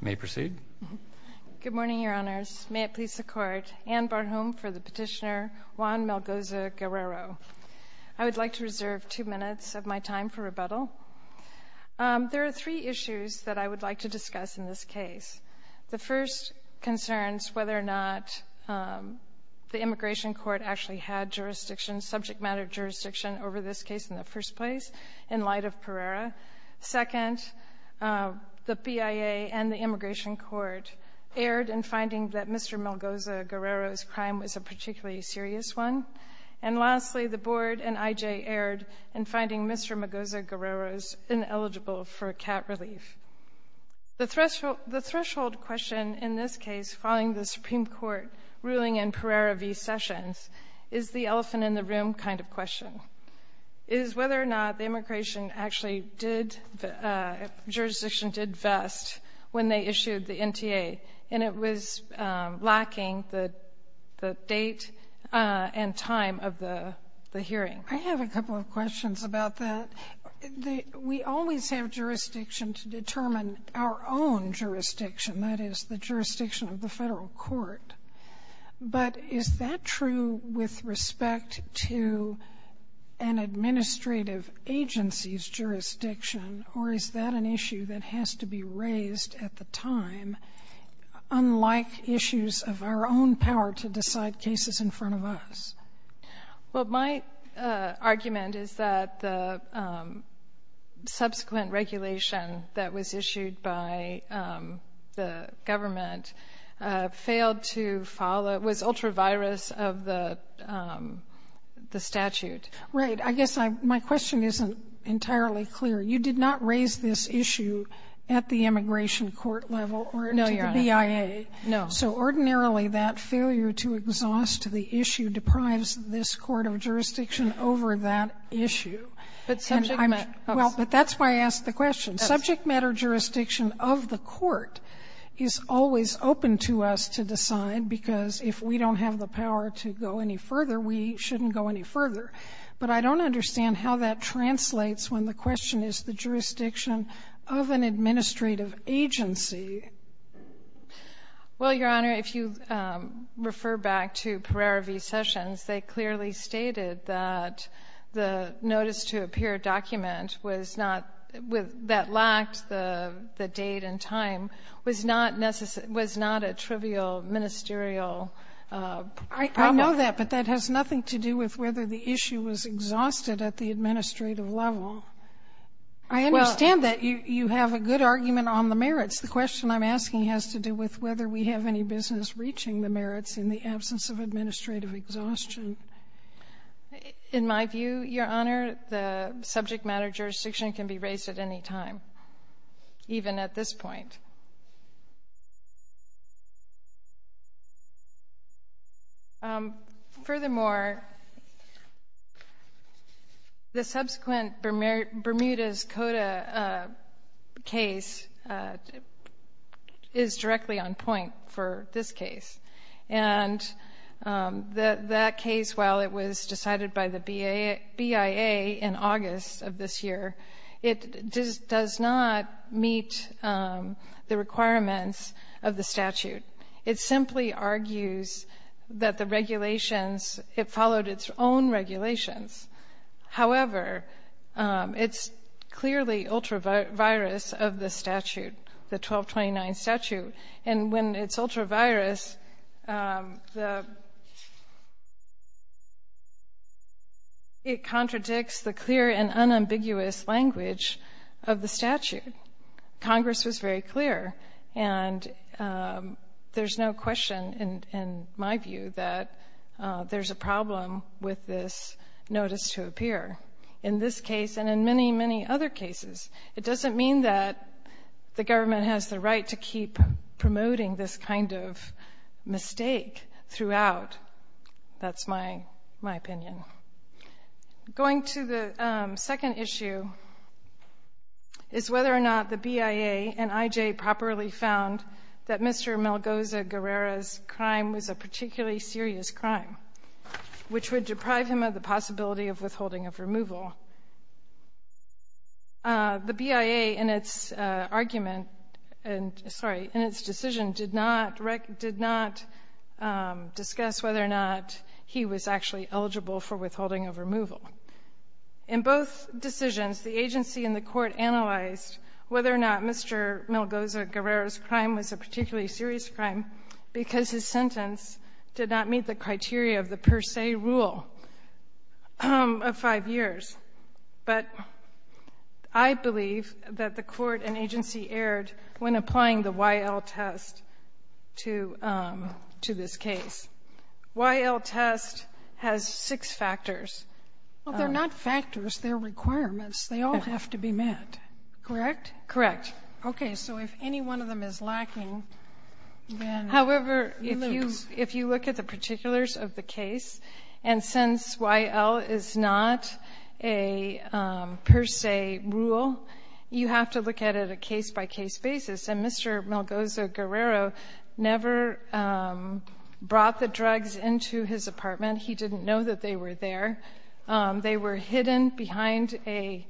May I proceed? Good morning, Your Honors. May it please the Court. Ann Barhom for the petitioner, Juan Melgoza Guerrero. I would like to reserve two minutes of my time for rebuttal. There are three issues that I would like to discuss in this case. The first concerns whether or not the immigration court actually had jurisdiction, subject matter jurisdiction, over this case in the first place in light of Pereira. Second, the BIA and the immigration court erred in finding that Mr. Melgoza Guerrero's crime was a particularly serious one. And lastly, the Board and IJ erred in finding Mr. Melgoza Guerrero's ineligible for cat relief. The threshold question in this case, following the Supreme Court ruling in Pereira v. Sessions, is the elephant in the room kind of question. It is whether or not the immigration actually did, jurisdiction did vest when they issued the NTA, and it was lacking the date and time of the hearing. I have a couple of questions about that. We always have jurisdiction to determine our own jurisdiction, that is, the jurisdiction of the federal court. But is that true with respect to an administrative agency's jurisdiction, or is that an issue that has to be raised at the time, unlike issues of our own power to decide cases in front of us? Well, my argument is that the subsequent regulation that was issued by the government failed to follow, was ultra-virus of the statute. Right. I guess my question isn't entirely clear. You did not raise this issue at the immigration court level or to the BIA. No, Your Honor. No. So ordinarily, that failure to exhaust the issue deprives this court of jurisdiction over that issue. But subject matter of course. Well, but that's why I asked the question. Subject matter jurisdiction of the court is always open to us to decide, because if we don't have the power to go any further, we shouldn't go any further. But I don't understand how that translates when the question is the jurisdiction of an administrative agency. Well, Your Honor, if you refer back to Pereira v. Sessions, they clearly stated that the notice-to-appear document was not, that lacked the date and time, was not a trivial ministerial problem. I know that, but that has nothing to do with whether the issue was exhausted at the administrative level. I understand that you have a good argument on the merits. The question I'm asking has to do with whether we have any business reaching the merits in the absence of administrative exhaustion. In my view, Your Honor, the subject matter jurisdiction can be raised at any time, even at this point. Furthermore, the subsequent Bermuda's Coda case is directly on point for this case. And that case, while it was decided by the BIA in August of this year, it does not meet the requirements of the statute. It simply argues that the regulations, it followed its own regulations. However, it's clearly ultra-virus of the statute, the 1229 statute. And when it's ultra-virus, it contradicts the clear and unambiguous language of the statute. Congress was very clear, and there's no question in my view that there's a problem with this notice-to-appear. In this case, and in many, many other cases, it doesn't mean that the government has the right to keep promoting this kind of mistake throughout. That's my opinion. Going to the second issue is whether or not the BIA and IJ properly found that Mr. Malgoza-Guerrera's crime was a particularly serious crime, which would deprive him of the possibility of withholding of removal. The BIA, in its argument, sorry, in its decision, did not discuss whether or not he was actually eligible for withholding of removal. In both decisions, the agency and the Court analyzed whether or not Mr. Malgoza-Guerrera's crime was a particularly serious crime because his sentence did not meet the criteria of the per se rule of five years. But I believe that the Court and agency erred when applying the Y.L. test to this case. Y.L. test has six factors. Sotomayor, they're not factors. They're requirements. They all have to be met. Correct? Correct. Okay. So if any one of them is lacking, then we lose. If you look at the particulars of the case, and since Y.L. is not a per se rule, you have to look at it a case-by-case basis. And Mr. Malgoza-Guerrera never brought the drugs into his apartment. He didn't know that they were there. They were hidden behind a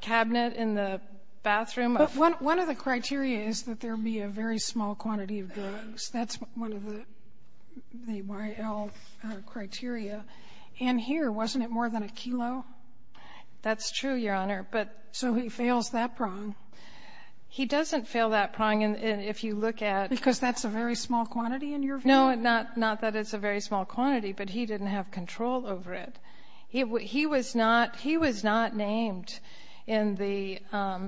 cabinet in the bathroom of the room. But one of the criteria is that there be a very small quantity of drugs. That's one of the Y.L. criteria. And here, wasn't it more than a kilo? That's true, Your Honor. But so he fails that prong. He doesn't fail that prong. And if you look at the Because that's a very small quantity in your view? No, not that it's a very small quantity, but he didn't have control over it. He was not named in the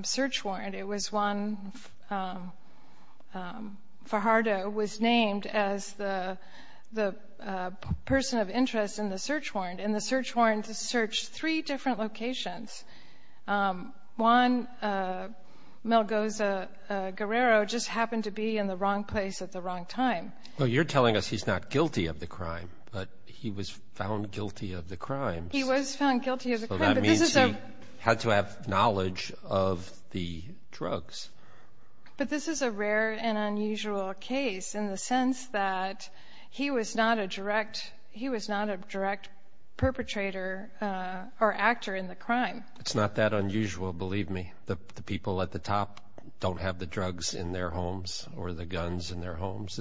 search warrant. It was Juan Fajardo was named as the person of interest in the search warrant. And the search warrant searched three different locations. Juan Malgoza-Guerrero just happened to be in the wrong place at the wrong time. Well, you're telling us he's not guilty of the crime, but he was found guilty of the crime. He was found guilty of the crime. So that means he had to have knowledge of the drugs. But this is a rare and unusual case in the sense that he was not a direct he was not a direct perpetrator or actor in the crime. It's not that unusual. Believe me, the people at the top don't have the drugs in their homes or the guns in their homes.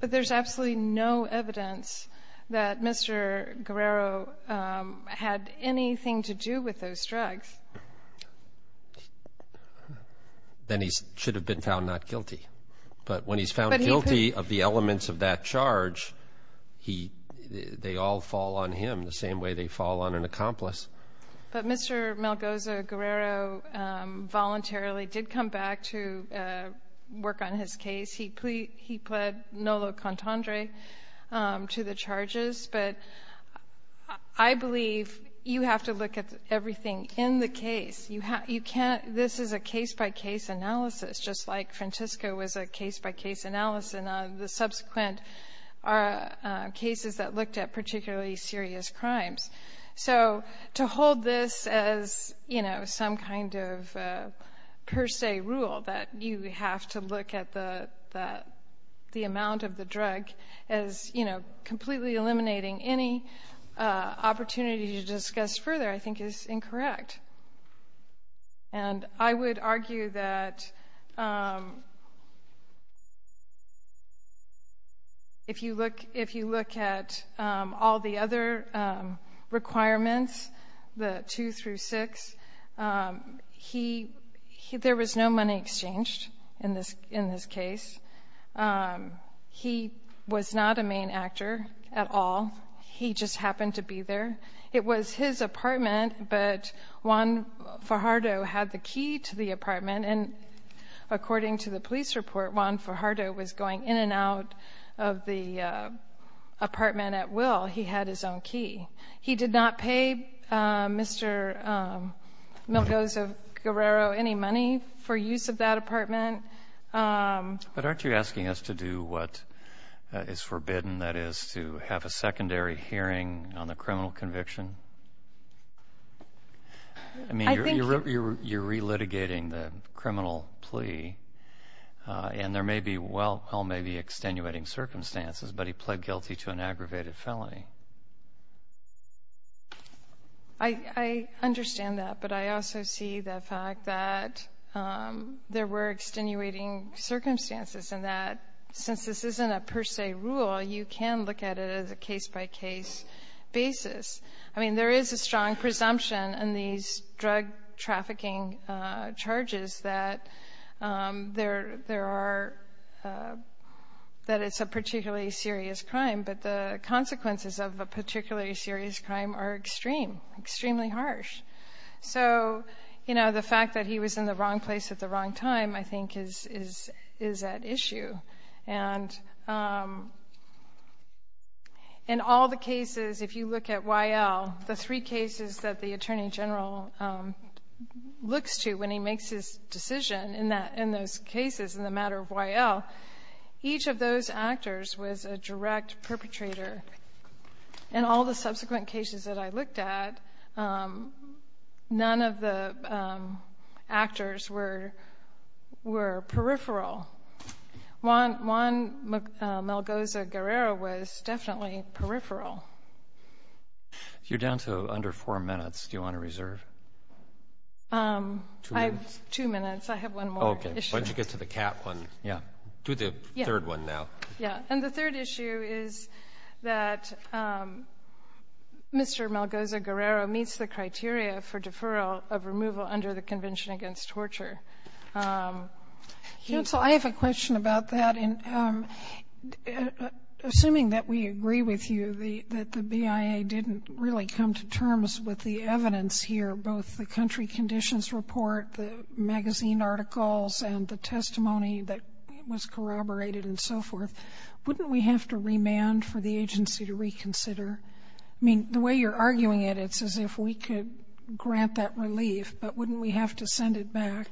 But there's absolutely no evidence that Mr. Guerrero had anything to do with those drugs. Then he should have been found not guilty. But when he's found guilty of the elements of that charge, he they all fall on him the same way they fall on an accomplice. But Mr. Malgoza-Guerrero voluntarily did come back to work on his case. He pled nolo contandre to the charges. But I believe you have to look at everything in the case. You can't, this is a case-by-case analysis, just like Francisco was a case-by-case analysis. And the subsequent are cases that looked at particularly serious crimes. So to hold this as some kind of per se rule, that you have to look at the amount of the drug as completely eliminating any opportunity to discuss further, I think is incorrect. And I would argue that if you look at all the other requirements, the two through six, there was no money exchanged in this case. He was not a main actor at all, he just happened to be there. It was his apartment, but Juan Fajardo had the key to the apartment. And according to the police report, Juan Fajardo was going in and out of the apartment at will, he had his own key. He did not pay Mr. Milgoza-Guerrero any money for use of that apartment. But aren't you asking us to do what is forbidden, that is to have a secondary hearing on the criminal conviction? I mean, you're relitigating the criminal plea, and there may be extenuating circumstances, but he pled guilty to an aggravated felony. I understand that, but I also see the fact that there were extenuating circumstances, and that since this isn't a per se rule, you can look at it as a case by case basis. I mean, there is a strong presumption in these drug trafficking charges that there are, that it's a particularly serious crime. But the consequences of a particularly serious crime are extreme, extremely harsh. So the fact that he was in the wrong place at the wrong time, I think, is at issue. And in all the cases, if you look at YL, the three cases that the Attorney General looks to when he makes his decision in those cases in the matter of YL, each of those actors was a direct perpetrator, and all the subsequent cases that I looked at, none of the actors were peripheral. Juan Malgoza-Guerrero was definitely peripheral. You're down to under four minutes. Do you want to reserve? Two minutes. Two minutes. I have one more issue. Okay, why don't you get to the cap one. Yeah. Do the third one now. Yeah. And the third issue is that Mr. Malgoza-Guerrero meets the criteria for deferral of removal under the Convention Against Torture. Counsel, I have a question about that. And assuming that we agree with you, that the BIA didn't really come to terms with the evidence here, both the country conditions report, the magazine articles, and the testimony that was corroborated and so forth, wouldn't we have to remand for the agency to reconsider? I mean, the way you're arguing it, it's as if we could grant that relief, but wouldn't we have to send it back?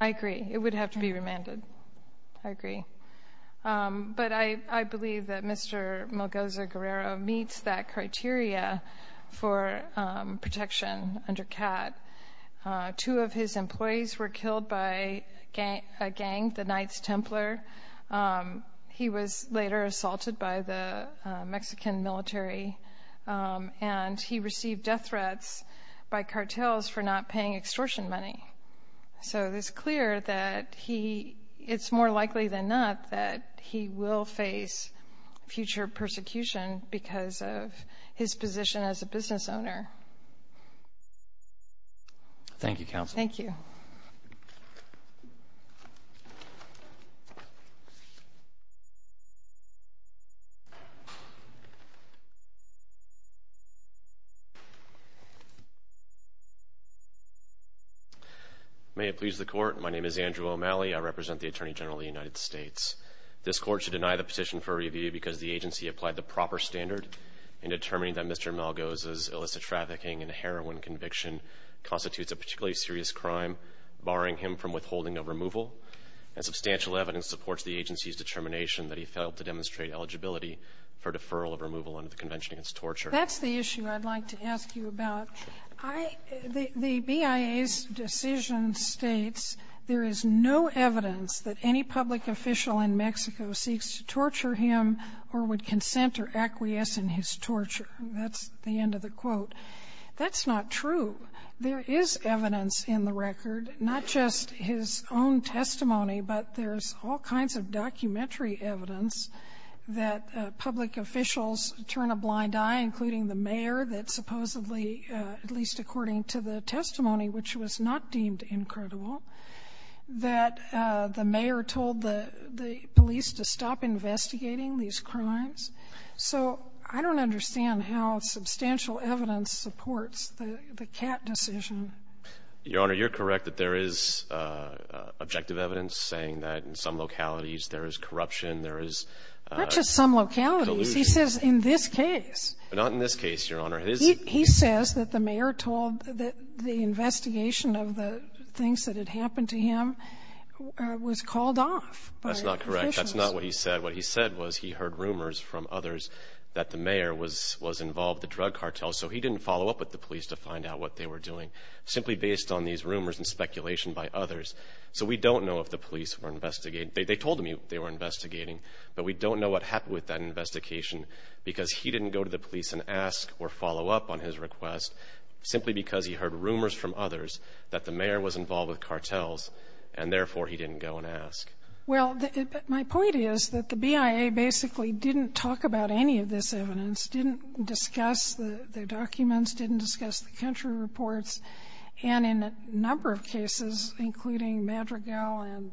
I agree. It would have to be remanded. I agree. But I believe that Mr. Malgoza-Guerrero meets that criteria for protection under CAT. Two of his employees were killed by a gang, the Knights Templar. He was later assaulted by the Mexican military. And he received death threats by cartels for not paying extortion money. So it's clear that he, it's more likely than not that he will face future persecution because of his position as a business owner. Thank you, Counsel. Thank you. May it please the court, my name is Andrew O'Malley. I represent the Attorney General of the United States. This court should deny the petition for review because the agency applied the proper standard in determining that Mr. Malgoza's illicit trafficking and prostitution constitutes a particularly serious crime, barring him from withholding of removal, and substantial evidence supports the agency's determination that he failed to demonstrate eligibility for deferral of removal under the Convention Against Torture. That's the issue I'd like to ask you about. I, the BIA's decision states there is no evidence that any public official in Mexico seeks to torture him or would consent or acquiesce in his torture. That's the end of the quote. That's not true. There is evidence in the record, not just his own testimony, but there's all kinds of documentary evidence that public officials turn a blind eye, including the mayor that supposedly, at least according to the testimony, which was not deemed incredible, that the mayor told the police to stop investigating these crimes. So I don't understand how substantial evidence supports the CAT decision. Your Honor, you're correct that there is objective evidence saying that in some localities there is corruption, there is delusion. Not just some localities. He says in this case. But not in this case, Your Honor. He says that the mayor told that the investigation of the things that had happened to him was called off by officials. That's not correct. That's not what he said. What he said was he heard rumors from others that the mayor was involved with drug cartels, so he didn't follow up with the police to find out what they were doing, simply based on these rumors and speculation by others. So we don't know if the police were investigating. They told him they were investigating. But we don't know what happened with that investigation because he didn't go to the police and ask or follow up on his request, simply because he heard rumors from others that the mayor was involved with cartels, and therefore he didn't go and ask. Well, my point is that the BIA basically didn't talk about any of this evidence, didn't discuss the documents, didn't discuss the country reports. And in a number of cases, including Madrigal and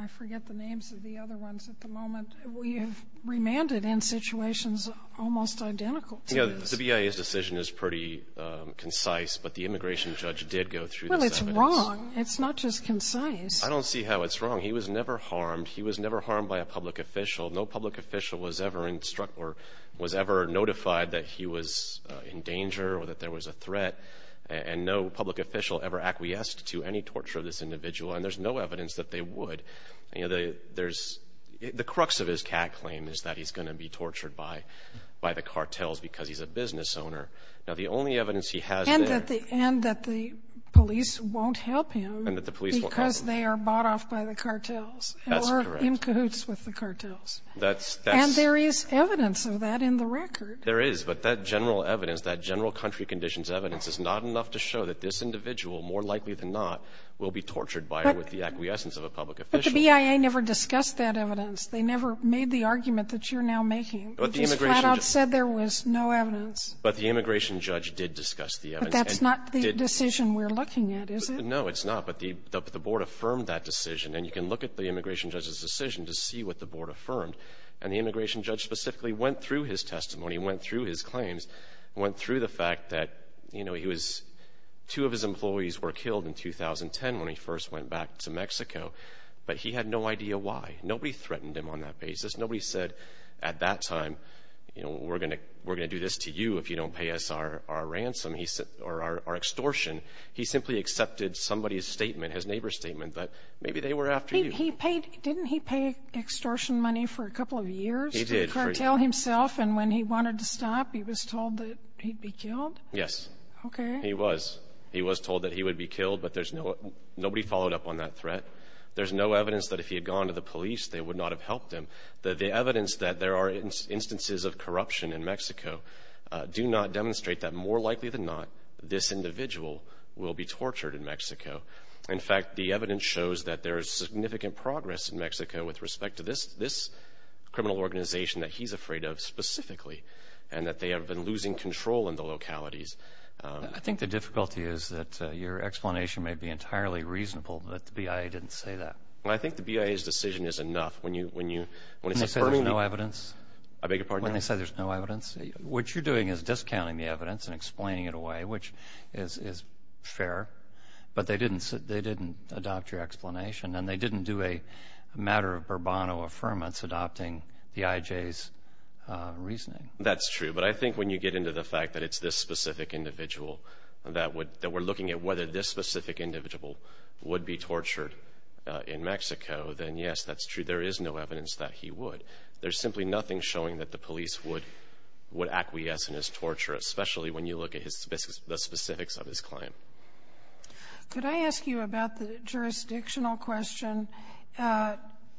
I forget the names of the other ones at the moment, we have remanded in situations almost identical to this. Yeah, the BIA's decision is pretty concise, but the immigration judge did go through this evidence. Well, it's wrong. It's not just concise. I don't see how it's wrong. He was never harmed. He was never harmed by a public official. No public official was ever instructed or was ever notified that he was in danger or that there was a threat. And no public official ever acquiesced to any torture of this individual. And there's no evidence that they would. You know, the crux of his cat claim is that he's going to be tortured by the cartels because he's a business owner. Now, the only evidence he has there And that the police won't help him because they are bought off by the cartels or in cahoots with the cartels. And there is evidence of that in the record. There is. But that general evidence, that general country conditions evidence, is not enough to show that this individual, more likely than not, will be tortured by or with the acquiescence of a public official. But the BIA never discussed that evidence. They never made the argument that you're now making. But the immigration judge But the immigration judge said there was no evidence. But the immigration judge did discuss the evidence. But that's not the decision we're looking at, is it? No, it's not. But the board affirmed that decision. And you can look at the immigration judge's decision to see what the board affirmed. And the immigration judge specifically went through his testimony, went through his claims, went through the fact that, you know, he was, two of his employees were killed in 2010 when he first went back to Mexico. But he had no idea why. Nobody threatened him on that basis. Nobody said at that time, you know, we're going to do this to you if you don't pay us our ransom or our extortion. He simply accepted somebody's statement, his neighbor's statement, that maybe they were after you. He paid Didn't he pay extortion money for a couple of years? He did. To curtail himself. And when he wanted to stop, he was told that he'd be killed? Yes. Okay. He was. He was told that he would be killed. But there's no Nobody followed up on that threat. There's no evidence that if he had gone to the police, they would not have helped him. The evidence that there are instances of corruption in Mexico do not demonstrate that more likely than not, this individual will be tortured in Mexico. In fact, the evidence shows that there is significant progress in Mexico with respect to this, this criminal organization that he's afraid of specifically, and that they have been losing control in the localities. I think the difficulty is that your explanation may be entirely reasonable that the BIA didn't say that. I think the BIA's decision is enough. When you, when you, when they say there's no evidence, I beg your pardon? When they say there's no evidence. What you're doing is discounting the evidence and explaining it away, which is, is fair. But they didn't say, they didn't adopt your explanation, and they didn't do a matter of Bourbon or affirmance adopting the IJ's reasoning. That's true, but I think when you get into the fact that it's this specific individual that would, that we're looking at whether this specific individual would be tortured in Mexico, then yes, that's true. There is no evidence that he would. There's simply nothing showing that the police would, would acquiesce in his torture, especially when you look at his specifics, the specifics of his claim. Could I ask you about the jurisdictional question?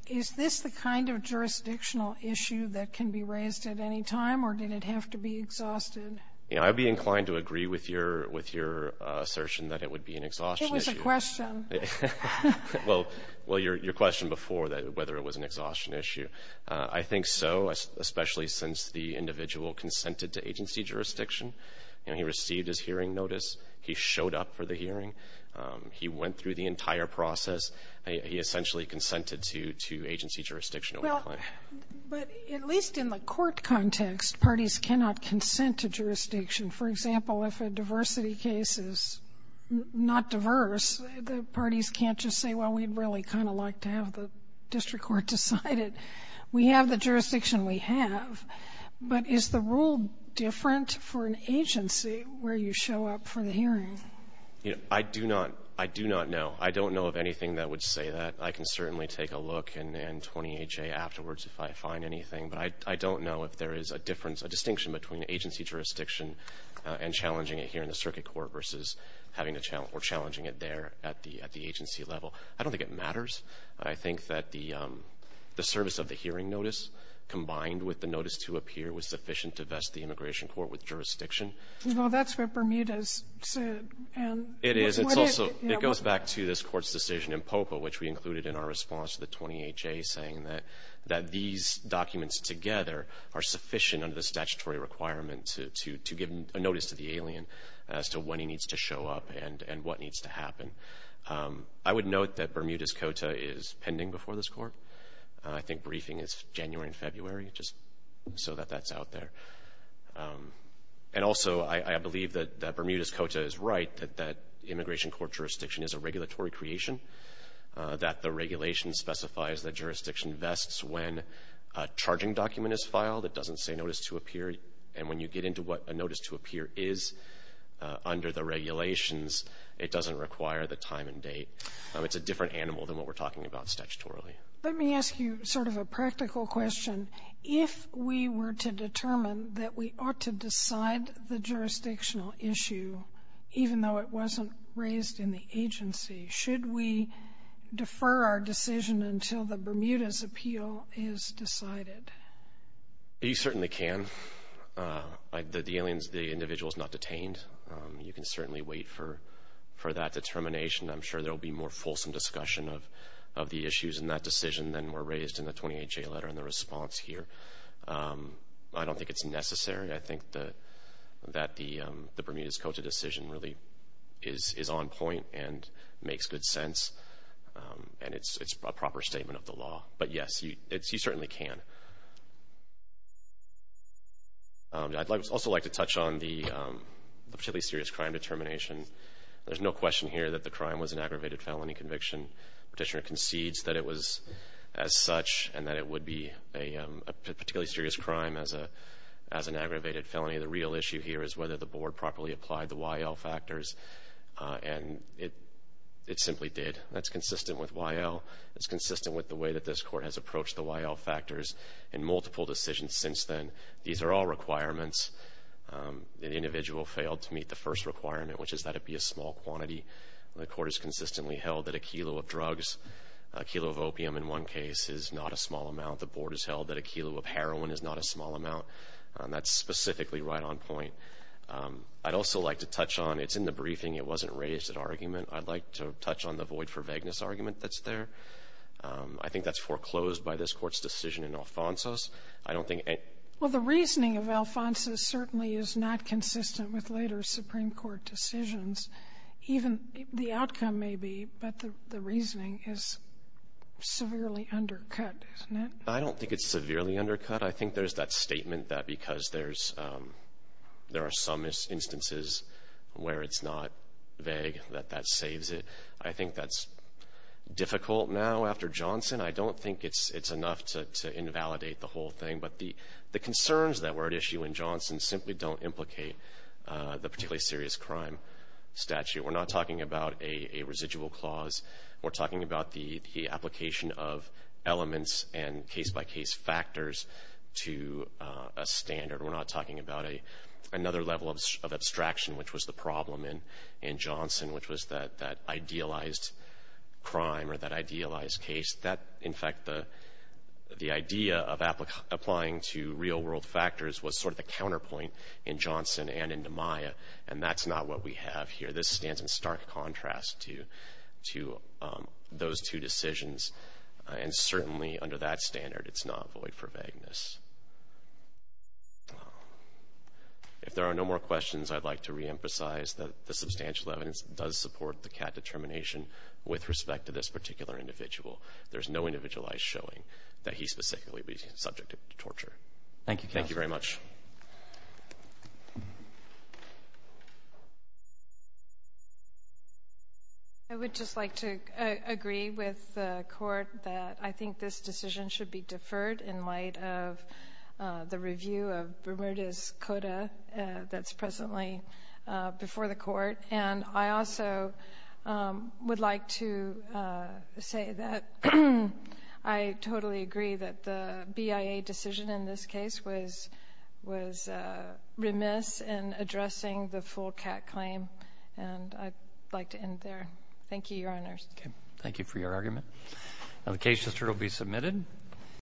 Is this the kind of jurisdictional issue that can be raised at any time, or did it have to be exhausted? You know, I'd be inclined to agree with your, with your assertion that it would be an exhaustion issue. It was a question. Well, well, your, your question before that, whether it was an exhaustion issue. I think so, especially since the individual consented to agency jurisdiction. And he received his hearing notice. He showed up for the hearing. He went through the entire process. He, he essentially consented to, to agency jurisdiction. Well, but at least in the court context, parties cannot consent to jurisdiction. For example, if a diversity case is not diverse, the parties can't just say, well, we'd really kind of like to have the district court decide it. We have the jurisdiction we have, but is the rule different for an agency where you show up for the hearing? You know, I do not, I do not know. I don't know of anything that would say that. I can certainly take a look and, and 28-J afterwards if I find anything. But I, I don't know if there is a difference, a distinction between agency jurisdiction and challenging it here in the circuit court versus having a challenge, or challenging it there at the, at the agency level. I don't think it matters. I think that the the service of the hearing notice combined with the notice to appear was sufficient to vest the immigration court with jurisdiction. Well, that's what Bermuda's said, and. It is, it's also, it goes back to this court's decision in POPA, which we included in our response to the 28-J saying that, that these documents together are sufficient under the statutory requirement to give a notice to the alien as to when he needs to show up and, and what needs to happen. I would note that Bermuda's Cota is pending before this court. I think briefing is January and February, just so that that's out there. And also, I, I believe that, that Bermuda's Cota is right, that, that immigration court jurisdiction is a regulatory creation. That the regulation specifies that jurisdiction vests when a charging document is filed. It doesn't say notice to appear. And when you get into what a notice to appear is under the regulations, it doesn't require the time and date. It's a different animal than what we're talking about statutorily. Let me ask you sort of a practical question. If we were to determine that we ought to decide the jurisdictional issue, even though it wasn't raised in the agency, should we defer our decision until the Bermuda's appeal is decided? You certainly can. I, the, the aliens, the individual's not detained. You can certainly wait for, for that determination. I'm sure there'll be more fulsome discussion of, of the issues in that decision than were raised in the 28-J letter and the response here. I don't think it's necessary. I think that, that the the Bermuda's Cota decision really is, is on point and makes good sense. And it's, it's a proper statement of the law. But yes, you, it's, you certainly can. I'd like, also like to touch on the particularly serious crime determination. There's no question here that the crime was an aggravated felony conviction. Petitioner concedes that it was as such and that it would be a particularly serious crime as a, as an aggravated felony. The real issue here is whether the board properly applied the YL factors. And it, it simply did. That's consistent with YL. It's consistent with the way that this court has approached the YL factors. In multiple decisions since then, these are all requirements. An individual failed to meet the first requirement, which is that it be a small quantity. The court has consistently held that a kilo of drugs, a kilo of opium in one case, is not a small amount. The board has held that a kilo of heroin is not a small amount. That's specifically right on point. I'd also like to touch on, it's in the briefing, it wasn't raised at argument. I'd like to touch on the void for vagueness argument that's there. I think that's foreclosed by this court's decision in Alfonso's. I don't think any- Well, the reasoning of Alfonso's certainly is not consistent with later Supreme Court decisions. Even the outcome may be, but the reasoning is severely undercut, isn't it? I don't think it's severely undercut. I think there's that statement that because there's, there are some instances where it's not vague, that that saves it. I think that's difficult now after Johnson. I don't think it's enough to invalidate the whole thing. But the concerns that were at issue in Johnson simply don't implicate the particularly serious crime statute. We're not talking about a residual clause. We're talking about the application of elements and case by case factors to a standard. We're not talking about another level of abstraction, which was the problem in Johnson, which was that idealized crime or that idealized case. That, in fact, the idea of applying to real world factors was sort of the counterpoint in Johnson and in DiMaia, and that's not what we have here. This stands in stark contrast to those two decisions, and certainly under that standard, it's not void for vagueness. If there are no more questions, I'd like to reemphasize that the substantial evidence does support the Catt determination with respect to this particular individual. There's no individualized showing that he specifically would be subject to torture. Thank you very much. I would just like to agree with the court that I think this decision should be considered in light of the review of Bermudez Coda that's presently before the court, and I also would like to say that I totally agree that the BIA decision in this case was remiss in addressing the full Catt claim, and I'd like to end there. Thank you, Your Honors. Okay, thank you for your argument. Now, the case will be submitted.